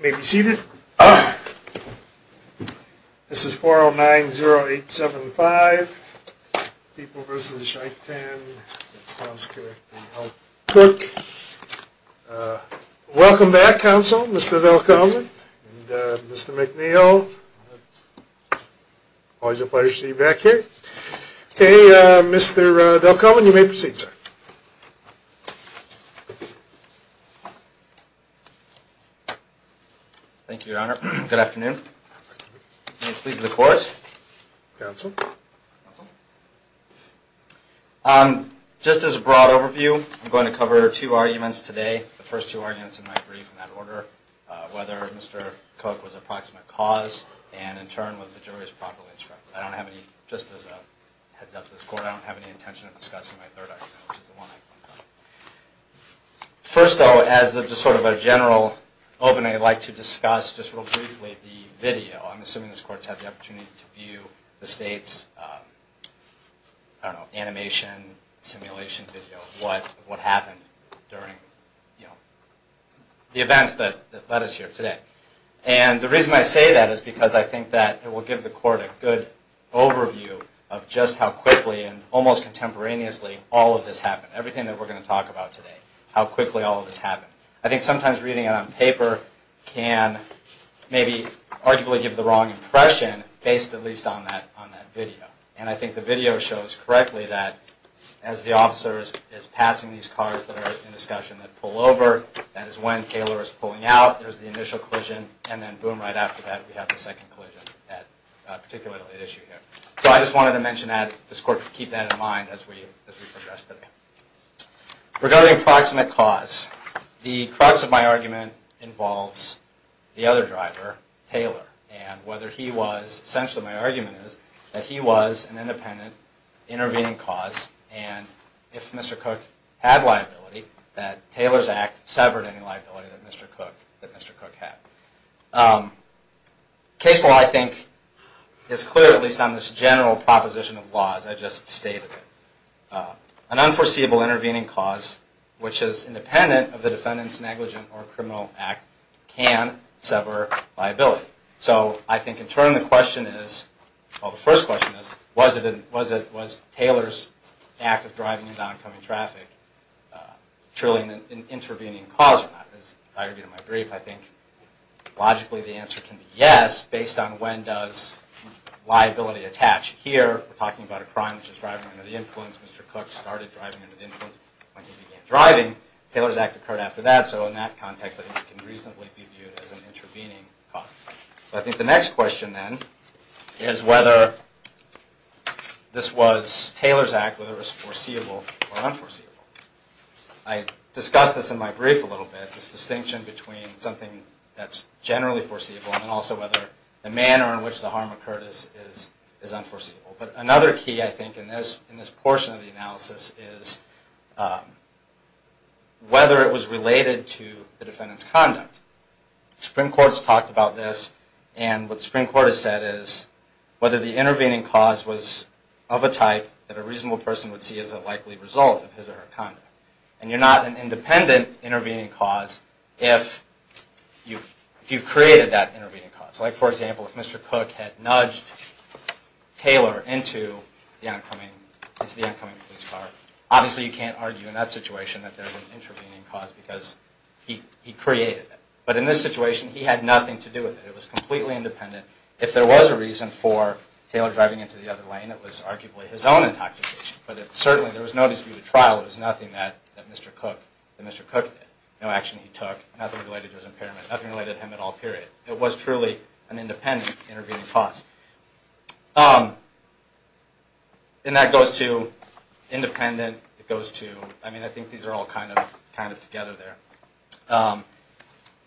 May be seated. This is 4090875, People v. Chaitin, that sounds correct, and L. Cook. Welcome back, counsel, Mr. Delcomen and Mr. McNeil. Always a pleasure to see you back here. Okay, Mr. Delcomen, you may proceed, sir. Thank you, Your Honor. Good afternoon. May it please the Court. Counsel. Just as a broad overview, I'm going to cover two arguments today, the first two arguments in my brief in that order, whether Mr. Cook was a proximate cause and, in turn, whether the jury was properly instructed. I don't have any, just as a heads up to this Court, I don't have any intention of discussing my third argument, which is the one I'm going to cover. First, though, as just sort of a general opening, I'd like to discuss just real briefly the video. I'm assuming this Court's had the opportunity to view the State's, I don't know, animation, simulation video, what happened during the events that led us here today. And the reason I say that is because I think that it will give the Court a good overview of just how quickly and almost contemporaneously all of this happened, everything that we're going to talk about today, how quickly all of this happened. I think sometimes reading it on paper can maybe arguably give the wrong impression, based at least on that video. And I think the video shows correctly that as the officer is passing these cars that are in discussion, they pull over, that is when Taylor is pulling out, there's the initial collision, and then, boom, right after that we have the second collision at particularly at issue here. So I just wanted to mention that, this Court could keep that in mind as we progress today. Regarding proximate cause, the crux of my argument involves the other driver, Taylor, and whether he was, essentially my argument is, that he was an independent intervening cause, and if Mr. Cook had liability, that Taylor's Act severed any liability that Mr. Cook had. Case law, I think, is clear, at least on this general proposition of laws I just stated. An unforeseeable intervening cause, which is independent of the defendant's negligent or criminal act, can sever liability. So I think, in turn, the question is, well, the first question is, was Taylor's act of driving and downcoming traffic truly an intervening cause or not? As I argued in my brief, I think, logically, the answer can be yes, based on when does liability attach. Here, we're talking about a crime which is driving under the influence. Mr. Cook started driving under the influence when he began driving. Taylor's Act occurred after that, so in that context, I think it can reasonably be viewed as an intervening cause. I think the next question, then, is whether this was Taylor's Act, whether it was foreseeable or unforeseeable. I discussed this in my brief a little bit, this distinction between something that's generally foreseeable and also whether the manner in which the harm occurred is unforeseeable. But another key, I think, in this portion of the analysis is whether it was related to the defendant's conduct. The Supreme Court has talked about this, and what the Supreme Court has said is, whether the intervening cause was of a type that a reasonable person would see as a likely result of his or her conduct. And you're not an independent intervening cause if you've created that intervening cause. Like, for example, if Mr. Cook had nudged Taylor into the oncoming police car, obviously you can't argue in that situation that there was an intervening cause because he created it. But in this situation, he had nothing to do with it. It was completely independent. If there was a reason for Taylor driving into the other lane, it was arguably his own intoxication. But certainly, there was no dispute at trial. It was nothing that Mr. Cook did. No action he took. Nothing related to his impairment. Nothing related to him at all, period. It was truly an independent intervening cause. And that goes to independent. It goes to, I mean, I think these are all kind of together there.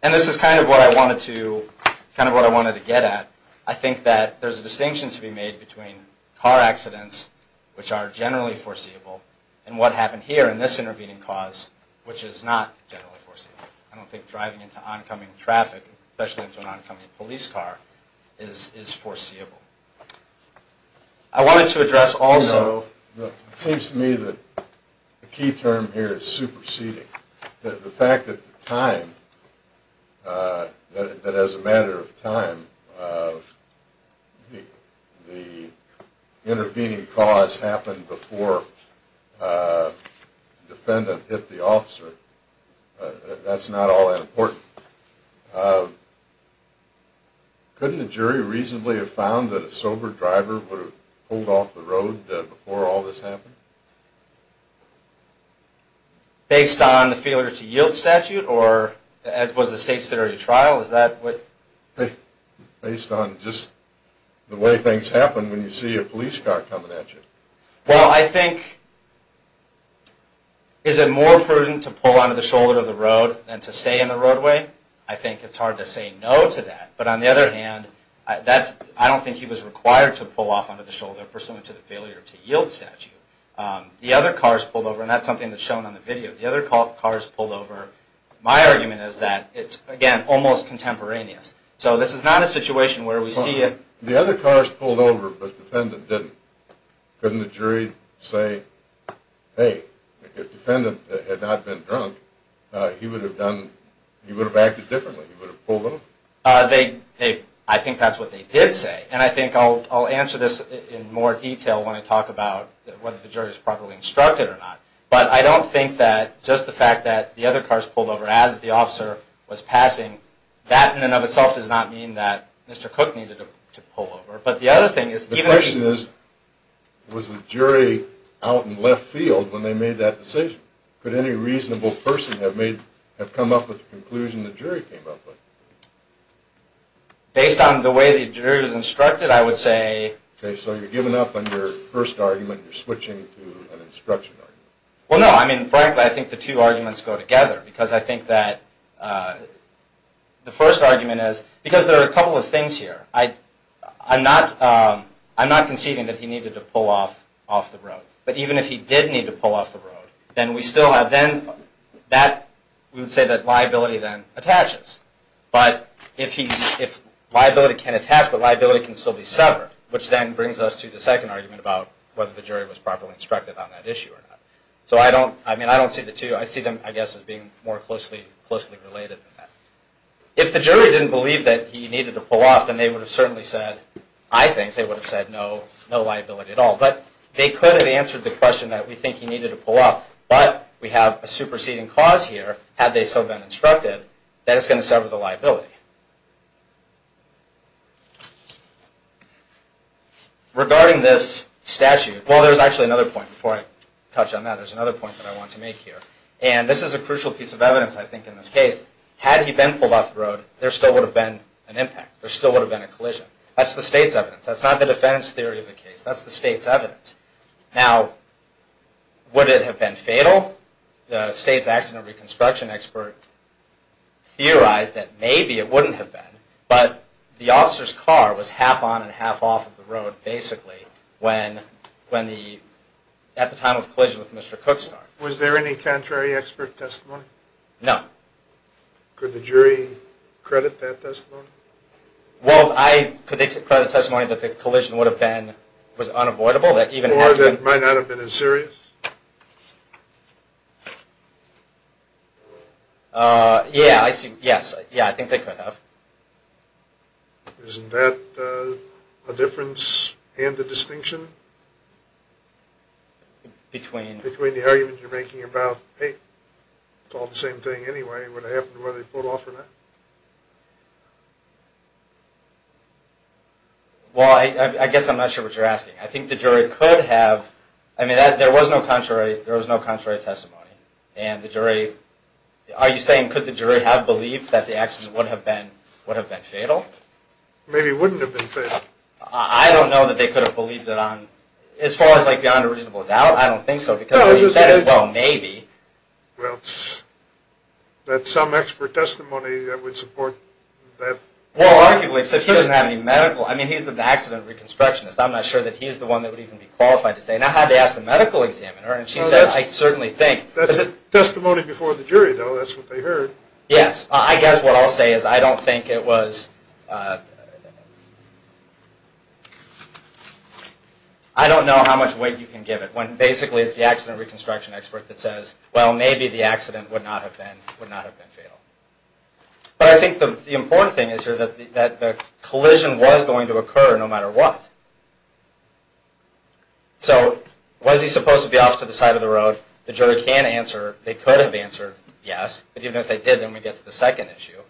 And this is kind of what I wanted to get at. I think that there's a distinction to be made between car accidents, which are generally foreseeable, and what happened here in this intervening cause, which is not generally foreseeable. I don't think driving into oncoming traffic, especially into an oncoming police car, is foreseeable. I wanted to address also – You know, it seems to me that the key term here is superseding. The fact that the time, that as a matter of time, the intervening cause happened before the defendant hit the officer, that's not all that important. Couldn't the jury reasonably have found that a sober driver would have pulled off the road before all this happened? Based on the failure to yield statute, or as was the state's theory of trial, is that what – Based on just the way things happen when you see a police car coming at you. Well, I think, is it more prudent to pull onto the shoulder of the road than to stay in the roadway? I think it's hard to say no to that. But on the other hand, I don't think he was required to pull off onto the shoulder pursuant to the failure to yield statute. The other cars pulled over, and that's something that's shown on the video. The other cars pulled over. My argument is that it's, again, almost contemporaneous. So this is not a situation where we see a – The other cars pulled over, but the defendant didn't. Couldn't the jury say, hey, if the defendant had not been drunk, he would have acted differently? He would have pulled over? I think that's what they did say. And I think I'll answer this in more detail when I talk about whether the jury is properly instructed or not. But I don't think that just the fact that the other cars pulled over as the officer was passing, that in and of itself does not mean that Mr. Cook needed to pull over. But the other thing is – The question is, was the jury out in left field when they made that decision? Could any reasonable person have come up with the conclusion the jury came up with? Based on the way the jury was instructed, I would say – Okay. So you're giving up on your first argument. You're switching to an instruction argument. Well, no. I mean, frankly, I think the two arguments go together because I think that the first argument is – because there are a couple of things here. I'm not conceding that he needed to pull off off the road. But even if he did need to pull off the road, then we still have – then that – we would say that liability then attaches. But if liability can attach, but liability can still be severed, which then brings us to the second argument about whether the jury was properly instructed on that issue or not. So I don't – I mean, I don't see the two. I see them, I guess, as being more closely related than that. If the jury didn't believe that he needed to pull off, then they would have certainly said – I think they would have said no liability at all. But they could have answered the question that we think he needed to pull off, but we have a superseding cause here, had they still been instructed, that is going to sever the liability. Regarding this statute – well, there's actually another point before I touch on that. There's another point that I want to make here. And this is a crucial piece of evidence, I think, in this case. Had he been pulled off the road, there still would have been an impact. There still would have been a collision. That's the state's evidence. That's not the defense theory of the case. That's the state's evidence. Now, would it have been fatal? The state's accident reconstruction expert theorized that maybe it wouldn't have been, but the officer's car was half on and half off of the road, basically, when the – at the time of the collision with Mr. Cook's car. Was there any contrary expert testimony? No. Could the jury credit that testimony? Well, I predicted credit testimony that the collision would have been – was unavoidable. Or that it might not have been as serious? Yeah, I see – yes. Yeah, I think they could have. Isn't that a difference and a distinction? Between? Between the argument you're making about, hey, it's all the same thing anyway. I mean, would it have happened whether they pulled off or not? Well, I guess I'm not sure what you're asking. I think the jury could have. I mean, there was no contrary testimony. And the jury – are you saying could the jury have believed that the accident would have been fatal? Maybe it wouldn't have been fatal. I don't know that they could have believed it on – as far as, like, beyond a reasonable doubt, I don't think so because you said, well, maybe. Well, that's some expert testimony that would support that. Well, arguably, except he doesn't have any medical – I mean, he's an accident reconstructionist. I'm not sure that he's the one that would even be qualified to say. And I had to ask the medical examiner, and she says, I certainly think. That's testimony before the jury, though. That's what they heard. Yes. I guess what I'll say is I don't think it was – I don't know how much weight you can give it when basically it's the accident reconstruction expert that says, well, maybe the accident would not have been fatal. But I think the important thing is here that the collision was going to occur no matter what. So was he supposed to be off to the side of the road? The jury can't answer. They could have answered yes. But even if they did, then we get to the second issue.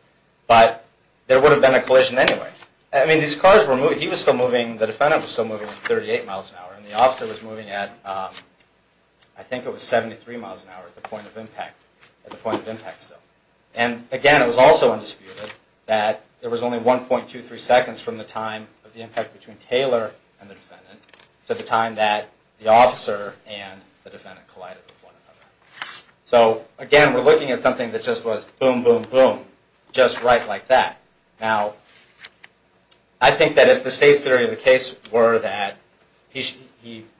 But there would have been a collision anyway. I mean, these cars were moving – he was still moving – the defendant was still moving 38 miles an hour. And the officer was moving at – I think it was 73 miles an hour at the point of impact still. And, again, it was also undisputed that there was only 1.23 seconds from the time of the impact between Taylor and the defendant to the time that the officer and the defendant collided with one another. So, again, we're looking at something that just was boom, boom, boom, just right like that. Now, I think that if the state's theory of the case were that he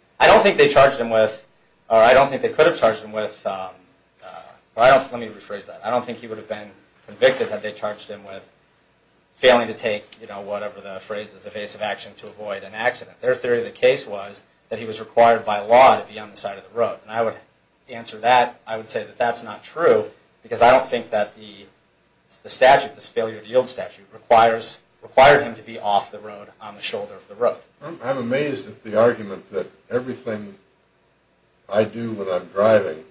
– I don't think they charged him with – or I don't think they could have charged him with – let me rephrase that. I don't think he would have been convicted had they charged him with failing to take, you know, whatever the phrase is, evasive action to avoid an accident. Their theory of the case was that he was required by law to be on the side of the road. And I would answer that. I would say that that's not true because I don't think that the statute, this failure to yield statute, required him to be off the road on the shoulder of the road. I'm amazed at the argument that everything I do when I'm driving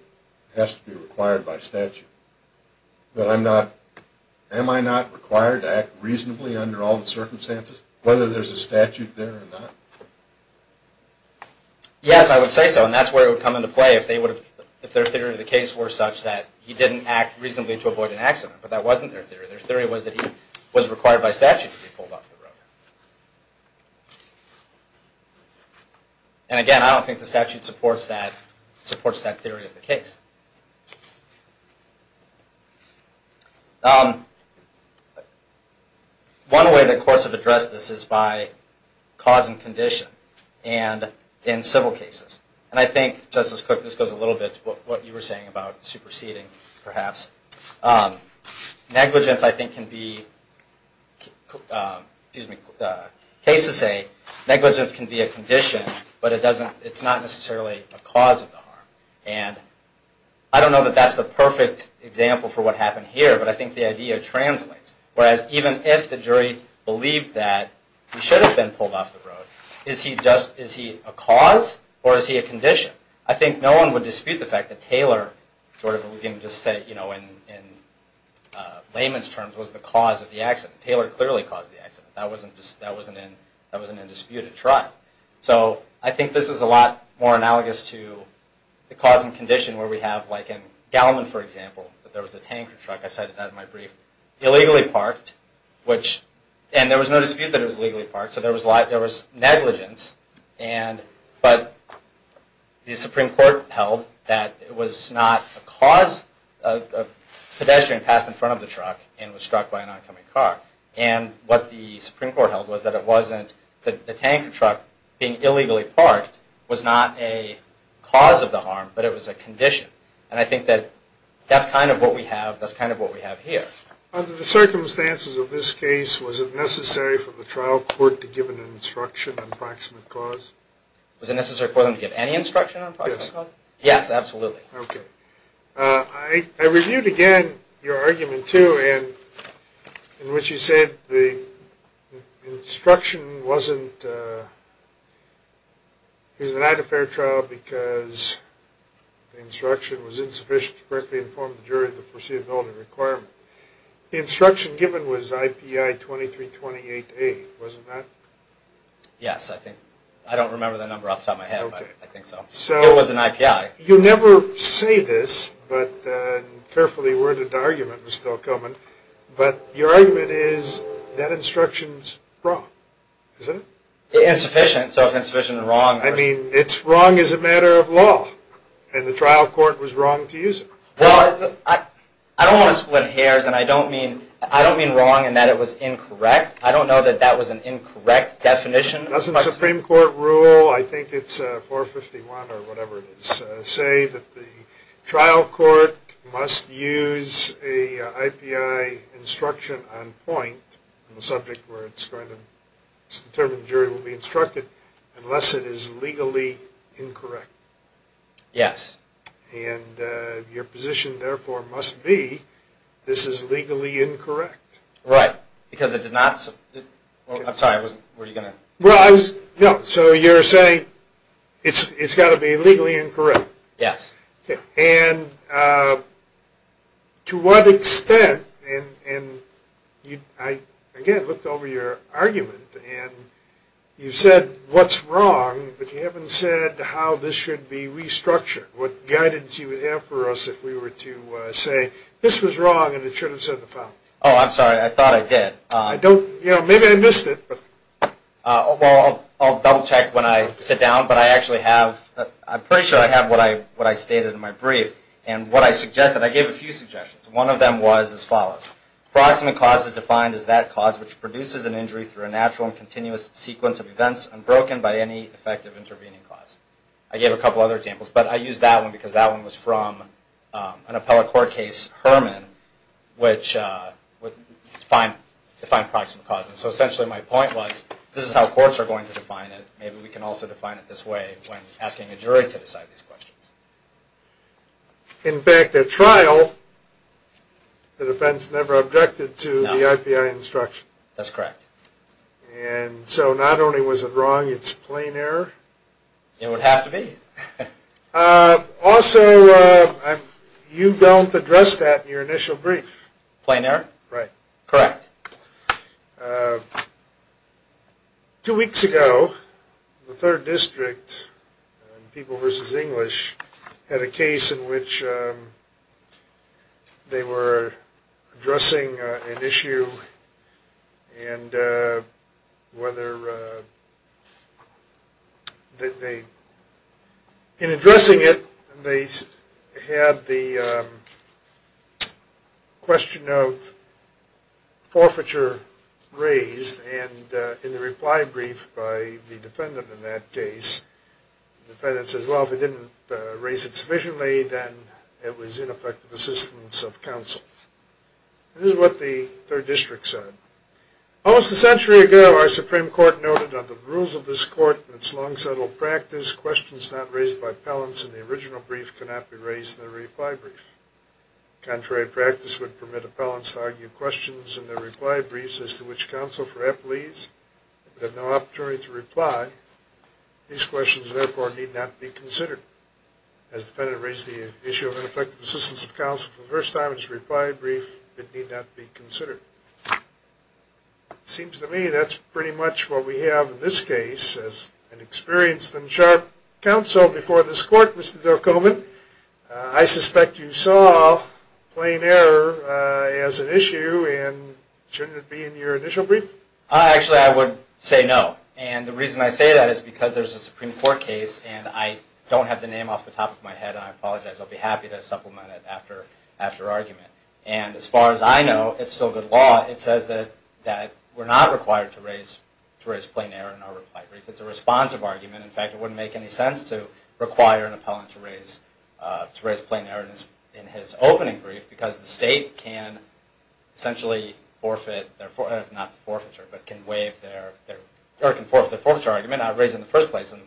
has to be required by statute. But I'm not – am I not required to act reasonably under all the circumstances, whether there's a statute there or not? Yes, I would say so, and that's where it would come into play if they would have – if their theory of the case were such that he didn't act reasonably to avoid an accident. But that wasn't their theory. Their theory was that he was required by statute to be pulled off the road. And again, I don't think the statute supports that theory of the case. One way that courts have addressed this is by cause and condition, and in civil cases. And I think, Justice Cook, this goes a little bit to what you were saying about superseding, perhaps. Negligence, I think, can be – cases say negligence can be a condition, but it doesn't – it's not necessarily a cause of the harm. And I don't know that that's the perfect example for what happened here, but I think the idea translates. Whereas, even if the jury believed that he should have been pulled off the road, is he just – is he a cause or is he a condition? I think no one would dispute the fact that Taylor sort of, we can just say in layman's terms, was the cause of the accident. Taylor clearly caused the accident. It's right. So, I think this is a lot more analogous to the cause and condition where we have, like in Gallimond, for example, that there was a tanker truck – I cited that in my brief – illegally parked, which – and there was no dispute that it was illegally parked, so there was negligence, but the Supreme Court held that it was not a cause. A pedestrian passed in front of the truck and was struck by an oncoming car. And what the Supreme Court held was that it wasn't – the tanker truck being illegally parked was not a cause of the harm, but it was a condition. And I think that that's kind of what we have here. Under the circumstances of this case, was it necessary for the trial court to give an instruction on proximate cause? Was it necessary for them to give any instruction on proximate cause? Yes. Yes, absolutely. Okay. I reviewed again your argument, too, in which you said the instruction wasn't – it was not a fair trial because the instruction was insufficient to correctly inform the jury of the proceedability requirement. The instruction given was IPI 2328A, wasn't that? Yes, I think. I don't remember the number off the top of my head, but I think so. It was an IPI. You never say this, but – carefully worded argument was still coming – but your argument is that instruction's wrong, isn't it? Insufficient. So it's insufficient and wrong. I mean, it's wrong as a matter of law, and the trial court was wrong to use it. Well, I don't want to split hairs, and I don't mean wrong in that it was incorrect. I don't know that that was an incorrect definition. Doesn't Supreme Court rule – I think it's 451 or whatever it is – say that the trial court must use a IPI instruction on point on a subject where it's going to – it's determined the jury will be instructed unless it is legally incorrect? Yes. And your position, therefore, must be this is legally incorrect. Right, because it did not – I'm sorry, I wasn't – Well, I was – no, so you're saying it's got to be legally incorrect. Yes. And to what extent – and I, again, looked over your argument, and you said what's wrong, but you haven't said how this should be restructured, what guidance you would have for us if we were to say this was wrong and it should have said the following. Oh, I'm sorry. I thought I did. Maybe I missed it. Well, I'll double-check when I sit down, but I actually have – I'm pretty sure I have what I stated in my brief. And what I suggested – I gave a few suggestions. One of them was as follows. Proximate cause is defined as that cause which produces an injury through a natural and continuous sequence of events unbroken by any effective intervening cause. I gave a couple other examples, but I used that one because that one was from an appellate court case, Herman, which defined proximate causes. So essentially my point was this is how courts are going to define it. Maybe we can also define it this way when asking a jury to decide these questions. In fact, at trial, the defense never objected to the IPI instruction. That's correct. And so not only was it wrong, it's plain error? It would have to be. Also, you don't address that in your initial brief. Plain error? Right. Correct. Two weeks ago, the 3rd District, People v. English, had a case in which they were addressing an issue and whether they, in addressing it, they had the question of forfeiture raised. And in the reply brief by the defendant in that case, the defendant says, well, if they didn't raise it sufficiently, then it was ineffective assistance of counsel. This is what the 3rd District said. Almost a century ago, our Supreme Court noted under the rules of this court and its long-settled practice, questions not raised by appellants in the original brief cannot be raised in the reply brief. Contrary practice would permit appellants to argue questions in their reply briefs, as to which counsel for appellees would have no opportunity to reply. These questions, therefore, need not be considered. As the defendant raised the issue of ineffective assistance of counsel for the first time in his reply brief, it need not be considered. It seems to me that's pretty much what we have in this case, as an experienced and sharp counsel before this court, Mr. Delcomen. I suspect you saw plain error as an issue, and shouldn't it be in your initial brief? Actually, I would say no, and the reason I say that is because there's a Supreme Court case and I don't have the name off the top of my head, and I apologize. I'll be happy to supplement it after argument. And as far as I know, it's still good law. It says that we're not required to raise plain error in our reply brief. It's a responsive argument. In fact, it wouldn't make any sense to require an appellant to raise plain error in his opening brief, because the State can essentially forfeit their, not forfeiture, but can waive their, or can forfeit their forfeiture argument out of reason in the first place, and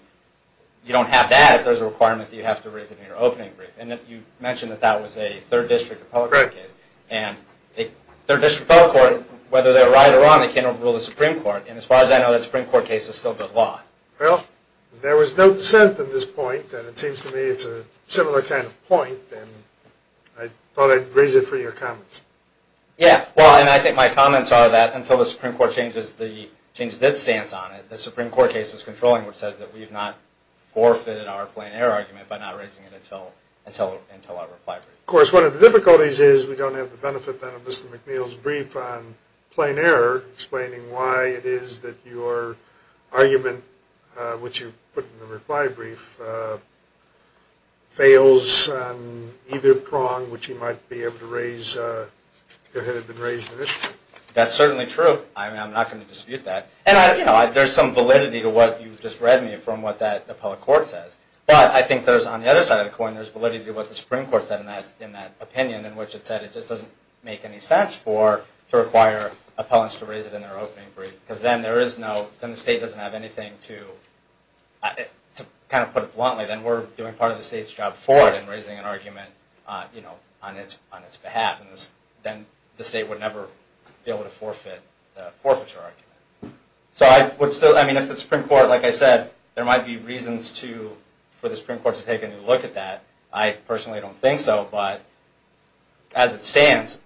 you don't have that if there's a requirement that you have to raise it in your opening brief. And you mentioned that that was a Third District appellate case, and a Third District appellate court, whether they were right or wrong, they can't overrule the Supreme Court. And as far as I know, that Supreme Court case is still good law. Well, there was no dissent at this point, and it seems to me it's a similar kind of point, and I thought I'd raise it for your comments. Yeah, well, and I think my comments are that until the Supreme Court changes its stance on it, the Supreme Court case is controlling, which says that we've not forfeited our plain error argument by not raising it until our reply brief. Of course, one of the difficulties is we don't have the benefit then of Mr. McNeil's brief on plain error, explaining why it is that your argument, which you put in the reply brief, fails on either prong, which he might be able to raise if it had been raised initially. That's certainly true. I mean, I'm not going to dispute that. And, you know, there's some validity to what you've just read me from what that appellate court says. But I think there's, on the other side of the coin, there's validity to what the Supreme Court said in that opinion, in which it said it just doesn't make any sense to require appellants to raise it in their opening brief, because then there is no, then the state doesn't have anything to, to kind of put it bluntly, then we're doing part of the state's job for it in raising an argument, you know, on its behalf. And then the state would never be able to forfeit the forfeiture argument. So I would still, I mean, if the Supreme Court, like I said, there might be reasons to, for the Supreme Court to take a new look at that. I personally don't think so, but as it stands,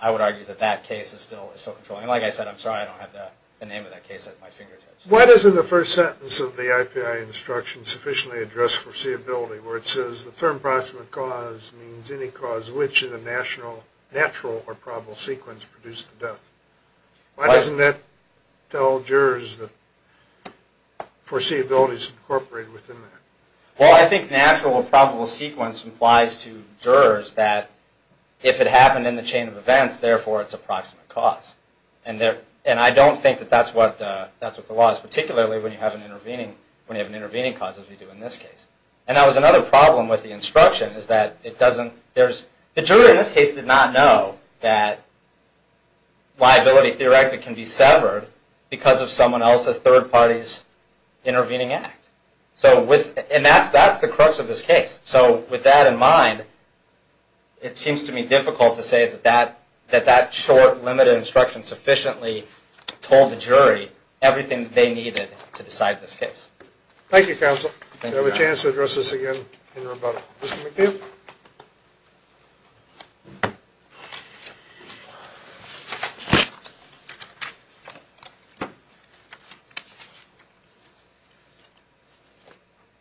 I would argue that that case is still controlling. And like I said, I'm sorry I don't have the name of that case at my fingertips. Why doesn't the first sentence of the IPI instruction sufficiently address foreseeability, where it says the term proximate cause means any cause which in a natural or probable sequence produced the death? Why doesn't that tell jurors that foreseeability is incorporated within that? Well, I think natural or probable sequence implies to jurors that if it happened in the chain of events, therefore it's a proximate cause. And I don't think that that's what the law is, particularly when you have an intervening cause as we do in this case. And that was another problem with the instruction is that it doesn't, the juror in this case did not know that liability theoretically can be severed because of someone else's third party's intervening act. And that's the crux of this case. So with that in mind, it seems to me difficult to say that that short, limited instruction sufficiently told the jury everything they needed to decide this case. Thank you, counsel. We'll have a chance to address this again in rebuttal. Mr. McNeil? Thank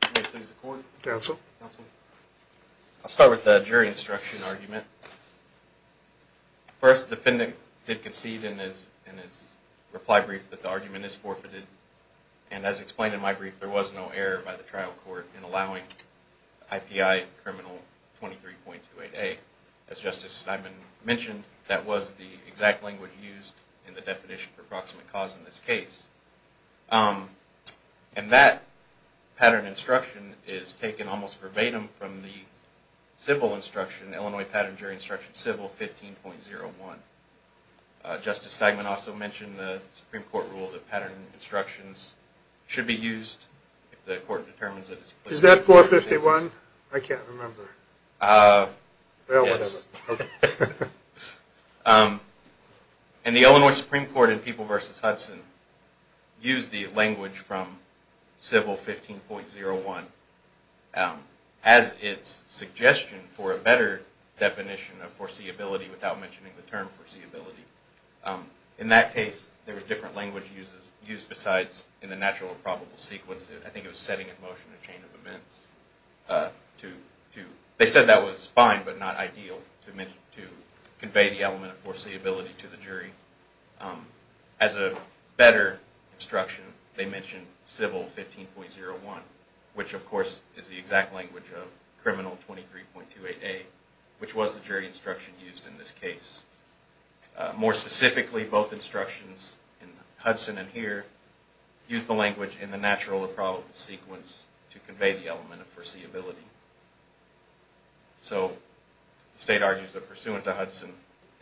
you. May it please the court? Counsel? Counsel? I'll start with the jury instruction argument. First, the defendant did concede in his reply brief that the argument is forfeited. And as explained in my brief, there was no error by the trial court in allowing IPI criminal 23.28A. As Justice Steinman mentioned, that was the exact language used in the definition for proximate cause in this case. And that pattern instruction is taken almost verbatim from the civil instruction, Illinois Pattern Jury Instruction Civil 15.01. Justice Steinman also mentioned the Supreme Court rule that pattern instructions should be used if the court determines it is... Is that 451? I can't remember. Well, whatever. And the Illinois Supreme Court in People v. Hudson used the language from civil 15.01 as its suggestion for a better definition of foreseeability without mentioning the term foreseeability. In that case, there was different language used besides in the natural or probable sequence. I think it was setting in motion a chain of events to... They said that was fine but not ideal to convey the element of foreseeability to the jury. As a better instruction, they mentioned civil 15.01, which of course is the exact language of criminal 23.28A, which was the jury instruction used in this case. More specifically, both instructions in Hudson and here use the language in the natural or probable sequence to convey the element of foreseeability. So the state argues that pursuant to Hudson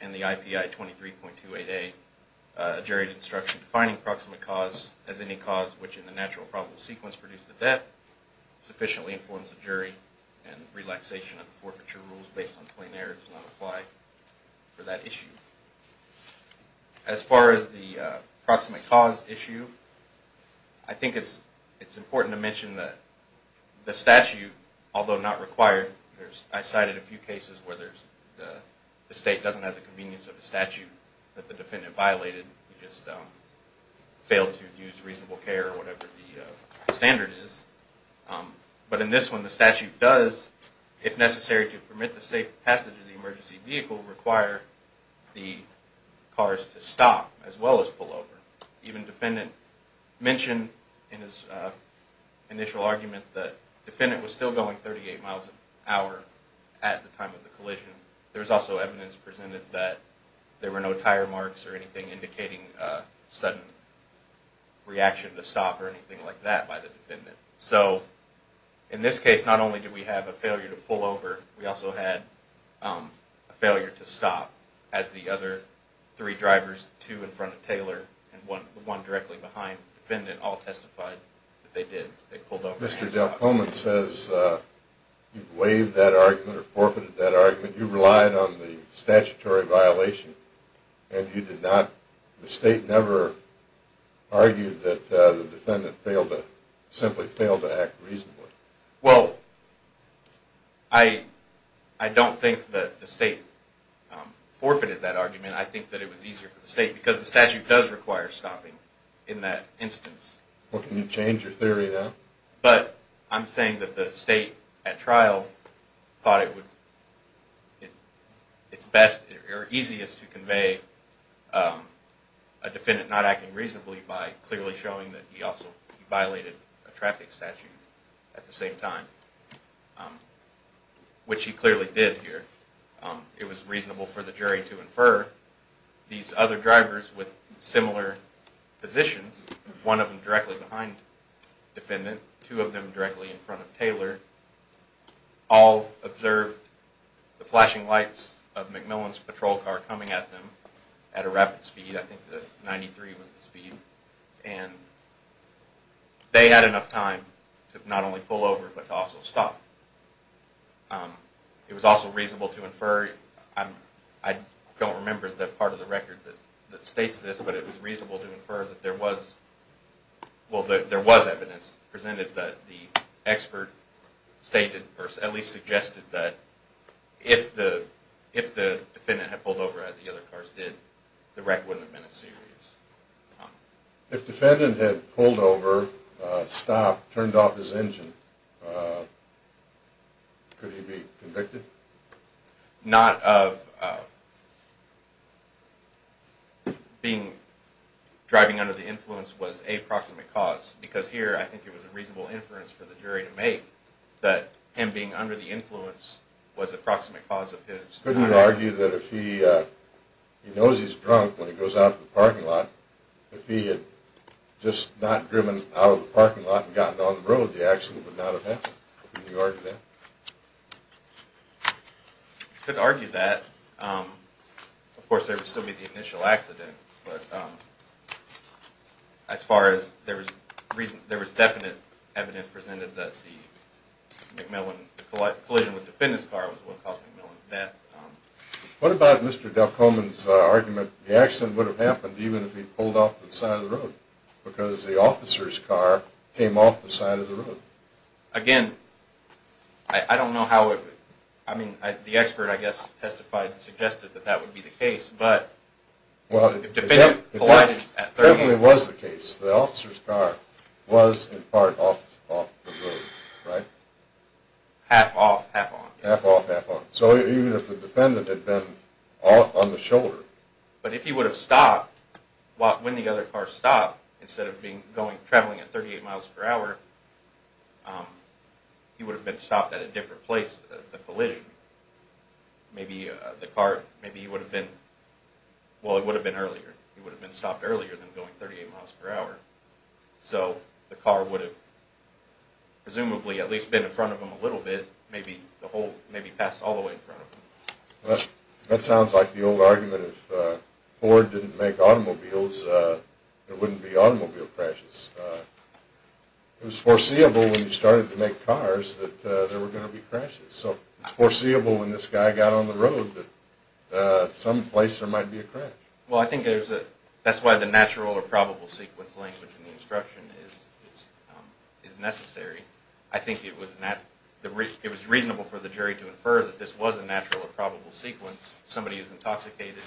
and the IPI 23.28A jury instruction, defining proximate cause as any cause which in the natural or probable sequence produced the death sufficiently informs the jury and relaxation of the forfeiture rules based on plain error does not apply for that issue. As far as the proximate cause issue, I think it's important to mention that the statute, although not required, I cited a few cases where the state doesn't have the convenience of a statute that the defendant violated, just failed to use reasonable care or whatever the standard is. But in this one, the statute does, if necessary to permit the safe passage of the emergency vehicle, require the cars to stop as well as pull over. Even the defendant mentioned in his initial argument that the defendant was still going 38 miles per hour at the time of the collision. There was also evidence presented that there were no tire marks or anything indicating a sudden reaction to stop or anything like that by the defendant. So in this case, not only did we have a failure to pull over, we also had a failure to stop. As the other three drivers, two in front of Taylor and one directly behind the defendant, all testified that they did, they pulled over and stopped. Mr. Delcomen says you've waived that argument or forfeited that argument. You relied on the statutory violation and you did not, the state never argued that the defendant simply failed to act reasonably. Well, I don't think that the state forfeited that argument. I think that it was easier for the state because the statute does require stopping in that instance. Well, can you change your theory now? But I'm saying that the state at trial thought it would, it's best or easiest to convey a defendant not acting reasonably by clearly showing that he also violated a traffic statute at the same time, which he clearly did here. It was reasonable for the jury to infer these other drivers with similar positions, one of them directly behind the defendant, two of them directly in front of Taylor, all observed the flashing lights of McMillan's patrol car coming at them at a rapid speed. I think the 93 was the speed. They had enough time to not only pull over but to also stop. It was also reasonable to infer, I don't remember the part of the record that states this, but it was reasonable to infer that there was evidence presented that the expert stated, or at least suggested that if the defendant had pulled over as the other cars did, the wreck wouldn't have been a series. If the defendant had pulled over, stopped, turned off his engine, could he be convicted? Not of being driving under the influence was a proximate cause because here I think it was a reasonable inference for the jury to make that him being under the influence was a proximate cause of his violation. Couldn't you argue that if he knows he's drunk when he goes out to the parking lot, if he had just not driven out of the parking lot and gotten on the road, the accident would not have happened? Couldn't you argue that? You could argue that. Of course, there would still be the initial accident, but as far as there was definite evidence presented that the collision with the defendant's car was what caused McMillan's death. What about Mr. Delcomen's argument the accident would have happened even if he pulled off the side of the road because the officer's car came off the side of the road? Again, I don't know how it would, I mean, the expert, I guess, testified and suggested that that would be the case, but if the defendant collided at third hand. It definitely was the case. The officer's car was in part off the road, right? Half off, half on. Half off, half on. So even if the defendant had been on the shoulder. But if he would have stopped when the other car stopped, instead of traveling at 38 miles per hour, he would have been stopped at a different place, the collision. Maybe the car, maybe he would have been, well, it would have been earlier. He would have been stopped earlier than going 38 miles per hour. So the car would have presumably at least been in front of him a little bit, maybe passed all the way in front of him. That sounds like the old argument if Ford didn't make automobiles, there wouldn't be automobile crashes. It was foreseeable when he started to make cars that there were going to be crashes. So it's foreseeable when this guy got on the road that someplace there might be a crash. Well, I think that's why the natural or probable sequence language in the instruction is necessary. I think it was reasonable for the jury to infer that this was a natural or probable sequence. Somebody is intoxicated.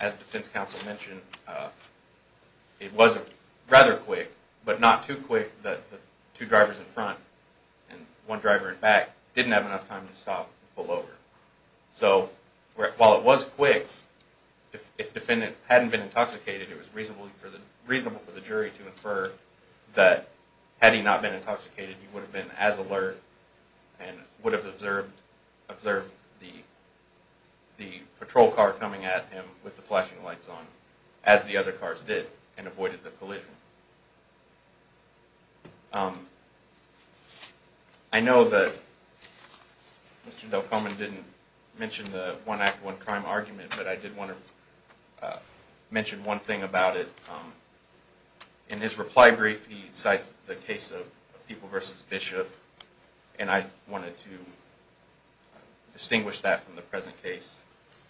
As defense counsel mentioned, it was rather quick, but not too quick that the two drivers in front and one driver in back didn't have enough time to stop and pull over. So while it was quick, if the defendant hadn't been intoxicated, it was reasonable for the jury to infer that had he not been intoxicated, he would have been as alert and would have observed the patrol car coming at him with the flashing lights on as the other cars did and avoided the collision. I know that Mr. Delcomen didn't mention the one act, one crime argument, but I did want to mention one thing about it. In his reply brief, he cites the case of People v. Bishop, and I wanted to distinguish that from the present case.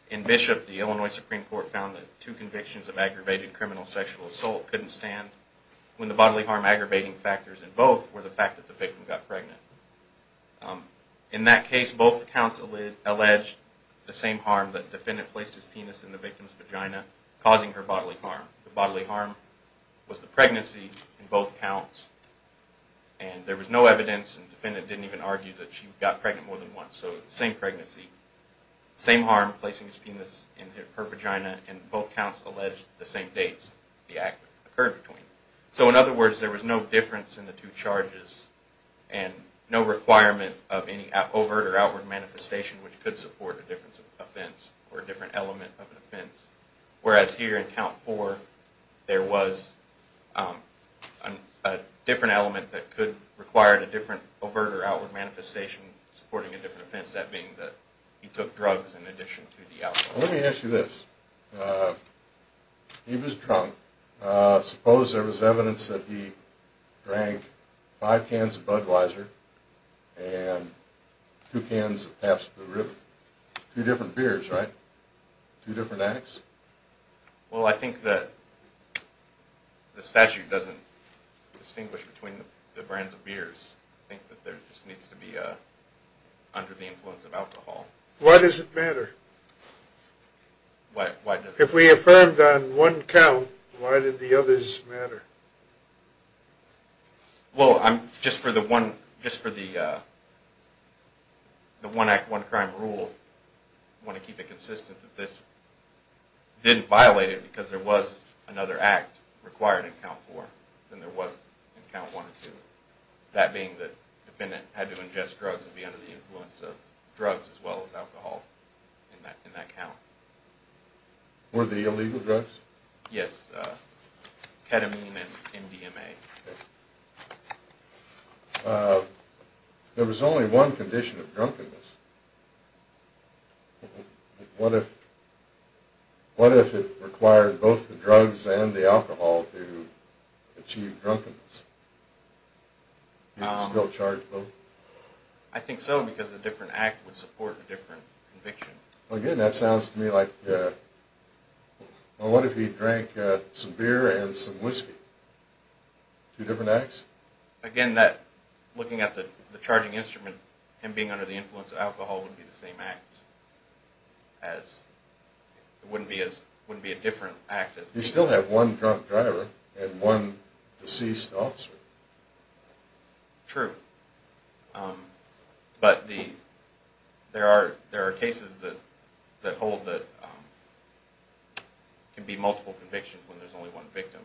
In Bishop, the Illinois Supreme Court found that two convictions of aggravated criminal sexual assault couldn't stand when the bodily harm aggravating factors in both were the fact that the victim got pregnant. In that case, both counts alleged the same harm that the defendant placed his penis in the victim's vagina, causing her bodily harm. The bodily harm was the pregnancy in both counts, and there was no evidence and the defendant didn't even argue that she got pregnant more than once, so it was the same pregnancy. The same harm, placing his penis in her vagina, and both counts alleged the same dates the act occurred between. So in other words, there was no difference in the two charges and no requirement of any overt or outward manifestation which could support a different offense or a different element of an offense, whereas here in Count 4, there was a different element that could require a different overt or outward manifestation supporting a different offense, that being that he took drugs in addition to the alcohol. Let me ask you this. He was drunk. Suppose there was evidence that he drank five cans of Budweiser and two cans of Pabst Blue Ribbon. Two different beers, right? Two different acts? I think that there just needs to be under the influence of alcohol. Why does it matter? If we affirmed on one count, why did the others matter? Well, just for the one act, one crime rule, I want to keep it consistent that this didn't violate it because there was another act required in Count 4 than there was in Count 1 and 2, that being that the defendant had to ingest drugs and be under the influence of drugs as well as alcohol in that count. Were they illegal drugs? Yes, ketamine and MDMA. There was only one condition of drunkenness. What if it required both the drugs and the alcohol to achieve drunkenness? Would you still charge both? I think so because a different act would support a different conviction. Again, that sounds to me like... What if he drank some beer and some whiskey? Two different acts? Again, looking at the charging instrument, him being under the influence of alcohol would be the same act. It wouldn't be a different act. You still have one drunk driver and one deceased officer. True. But there are cases that can be multiple convictions when there's only one victim,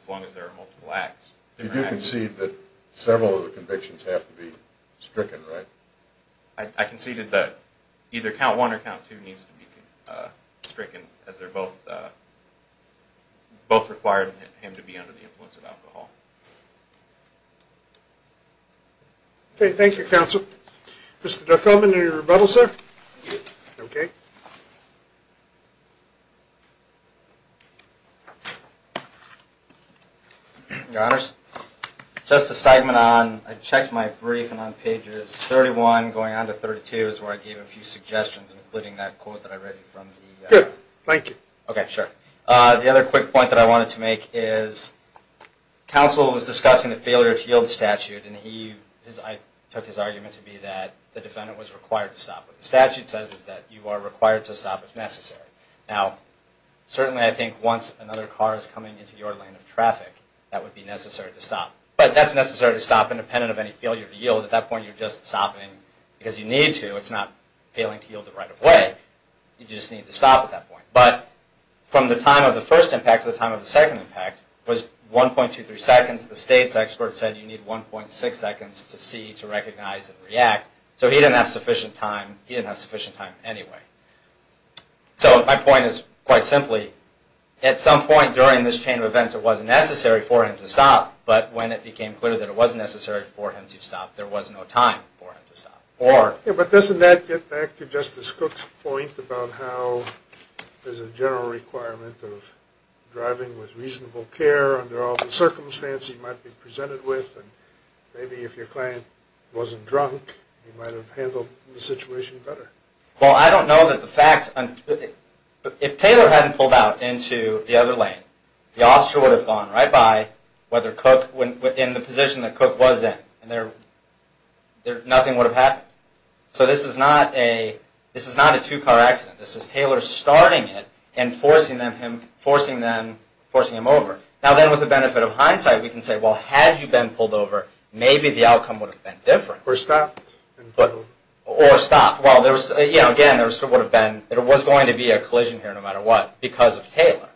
as long as there are multiple acts. You do concede that several of the convictions have to be stricken, right? I conceded that either Count 1 or Count 2 needs to be stricken as they're both required for him to be under the influence of alcohol. Okay, thank you, counsel. Mr. Dirkhoffman, any rebuttals, sir? No. Okay. Your Honors, just a statement on... I checked my brief and on pages 31 going on to 32 is where I gave a few suggestions, including that quote that I read from the... Good, thank you. Okay, sure. The other quick point that I wanted to make is, counsel was discussing the failure to yield statute, and I took his argument to be that the defendant was required to stop. What the statute says is that you are required to stop if necessary. Now, certainly I think once another car is coming into your lane of traffic, that would be necessary to stop. But that's necessary to stop independent of any failure to yield. At that point, you're just stopping because you need to. It's not failing to yield the right of way. You just need to stop at that point. But from the time of the first impact to the time of the second impact was 1.23 seconds. The state's expert said you need 1.6 seconds to see, to recognize, and react. So he didn't have sufficient time. He didn't have sufficient time anyway. So my point is, quite simply, at some point during this chain of events it wasn't necessary for him to stop, but when it became clear that it was necessary for him to stop, there was no time for him to stop. But doesn't that get back to Justice Cook's point about how there's a general requirement of driving with reasonable care under all the circumstances he might be presented with, and maybe if your client wasn't drunk, he might have handled the situation better. Well, I don't know that the facts... If Taylor hadn't pulled out into the other lane, the officer would have gone right by, whether Cook, in the position that Cook was in, and nothing would have happened. So this is not a two-car accident. This is Taylor starting it and forcing him over. Now then, with the benefit of hindsight, we can say, well, had you been pulled over, maybe the outcome would have been different. Or stopped. Or stopped. Well, again, it was going to be a collision here no matter what because of Taylor.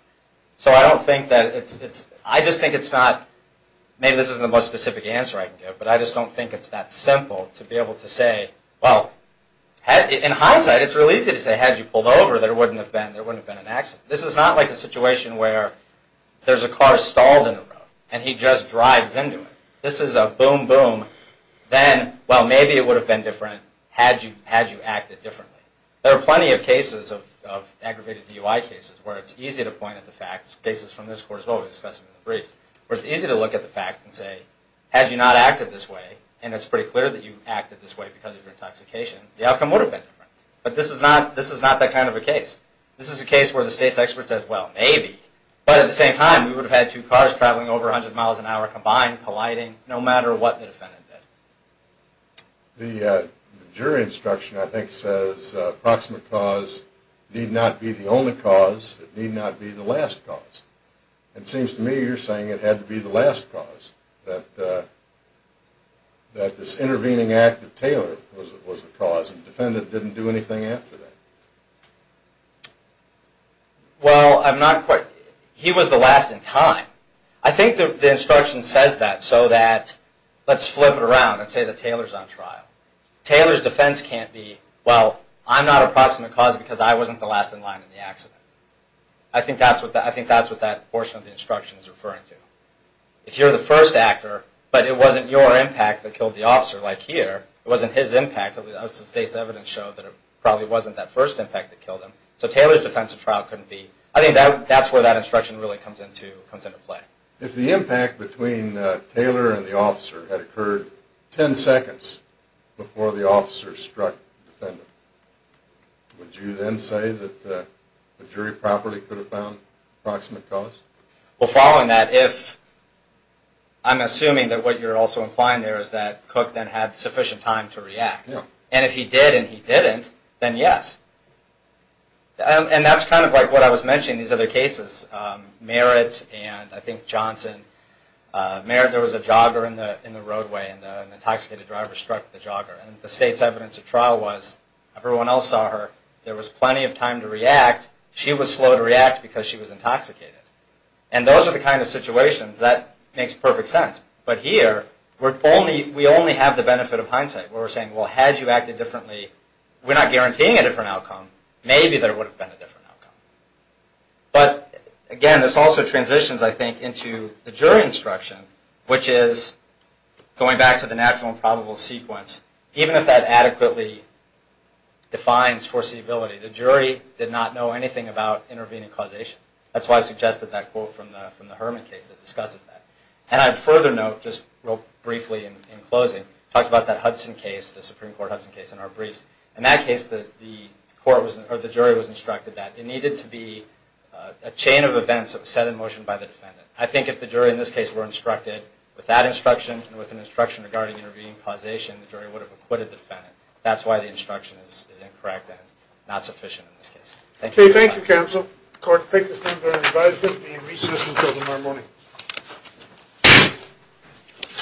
So I don't think that it's... I just think it's not... Maybe this isn't the most specific answer I can give, but I just don't think it's that simple to be able to say, well, in hindsight, it's really easy to say, had you pulled over, there wouldn't have been an accident. This is not like a situation where there's a car stalled in the road and he just drives into it. This is a boom, boom. Then, well, maybe it would have been different had you acted differently. There are plenty of cases of aggravated DUI cases where it's easy to point at the facts. Cases from this court as well we discussed in the briefs. Where it's easy to look at the facts and say, had you not acted this way, and it's pretty clear that you acted this way because of your intoxication, the outcome would have been different. But this is not that kind of a case. This is a case where the state's expert says, well, maybe. But at the same time, we would have had two cars traveling over 100 miles an hour combined, colliding, no matter what the defendant did. The jury instruction, I think, says, approximate cause need not be the only cause. It need not be the last cause. It seems to me you're saying it had to be the last cause, that this intervening act of Taylor was the cause, and the defendant didn't do anything after that. Well, I'm not quite. He was the last in time. I think the instruction says that so that, let's flip it around and say that Taylor's on trial. Taylor's defense can't be, well, I'm not approximate cause because I wasn't the last in line in the accident. I think that's what that portion of the instruction is referring to. If you're the first actor, but it wasn't your impact that killed the officer, like here, it wasn't his impact. The state's evidence showed that it probably wasn't that first impact that killed him. So Taylor's defense of trial couldn't be. I think that's where that instruction really comes into play. If the impact between Taylor and the officer had occurred 10 seconds before the officer struck the defendant, would you then say that the jury properly could have found approximate cause? Well, following that, I'm assuming that what you're also implying there is that Cook then had sufficient time to react. And if he did and he didn't, then yes. And that's kind of like what I was mentioning in these other cases. Merritt and I think Johnson. Merritt, there was a jogger in the roadway and an intoxicated driver struck the jogger. And the state's evidence of trial was everyone else saw her. There was plenty of time to react. She was slow to react because she was intoxicated. And those are the kind of situations that makes perfect sense. But here, we only have the benefit of hindsight where we're saying, well, had you acted differently, we're not guaranteeing a different outcome. Maybe there would have been a different outcome. But again, this also transitions, I think, into the jury instruction, which is going back to the natural and probable sequence. Even if that adequately defines foreseeability, the jury did not know anything about intervening causation. That's why I suggested that quote from the Herman case that discusses that. And I'd further note, just real briefly in closing, we talked about that Hudson case, the Supreme Court Hudson case in our briefs. In that case, the jury was instructed that. It needed to be a chain of events set in motion by the defendant. I think if the jury in this case were instructed with that instruction and with an instruction regarding intervening causation, the jury would have acquitted the defendant. That's why the instruction is incorrect and not sufficient in this case. Thank you. Thank you, counsel. Court, take this into your advisement. We'll be in recess until tomorrow morning.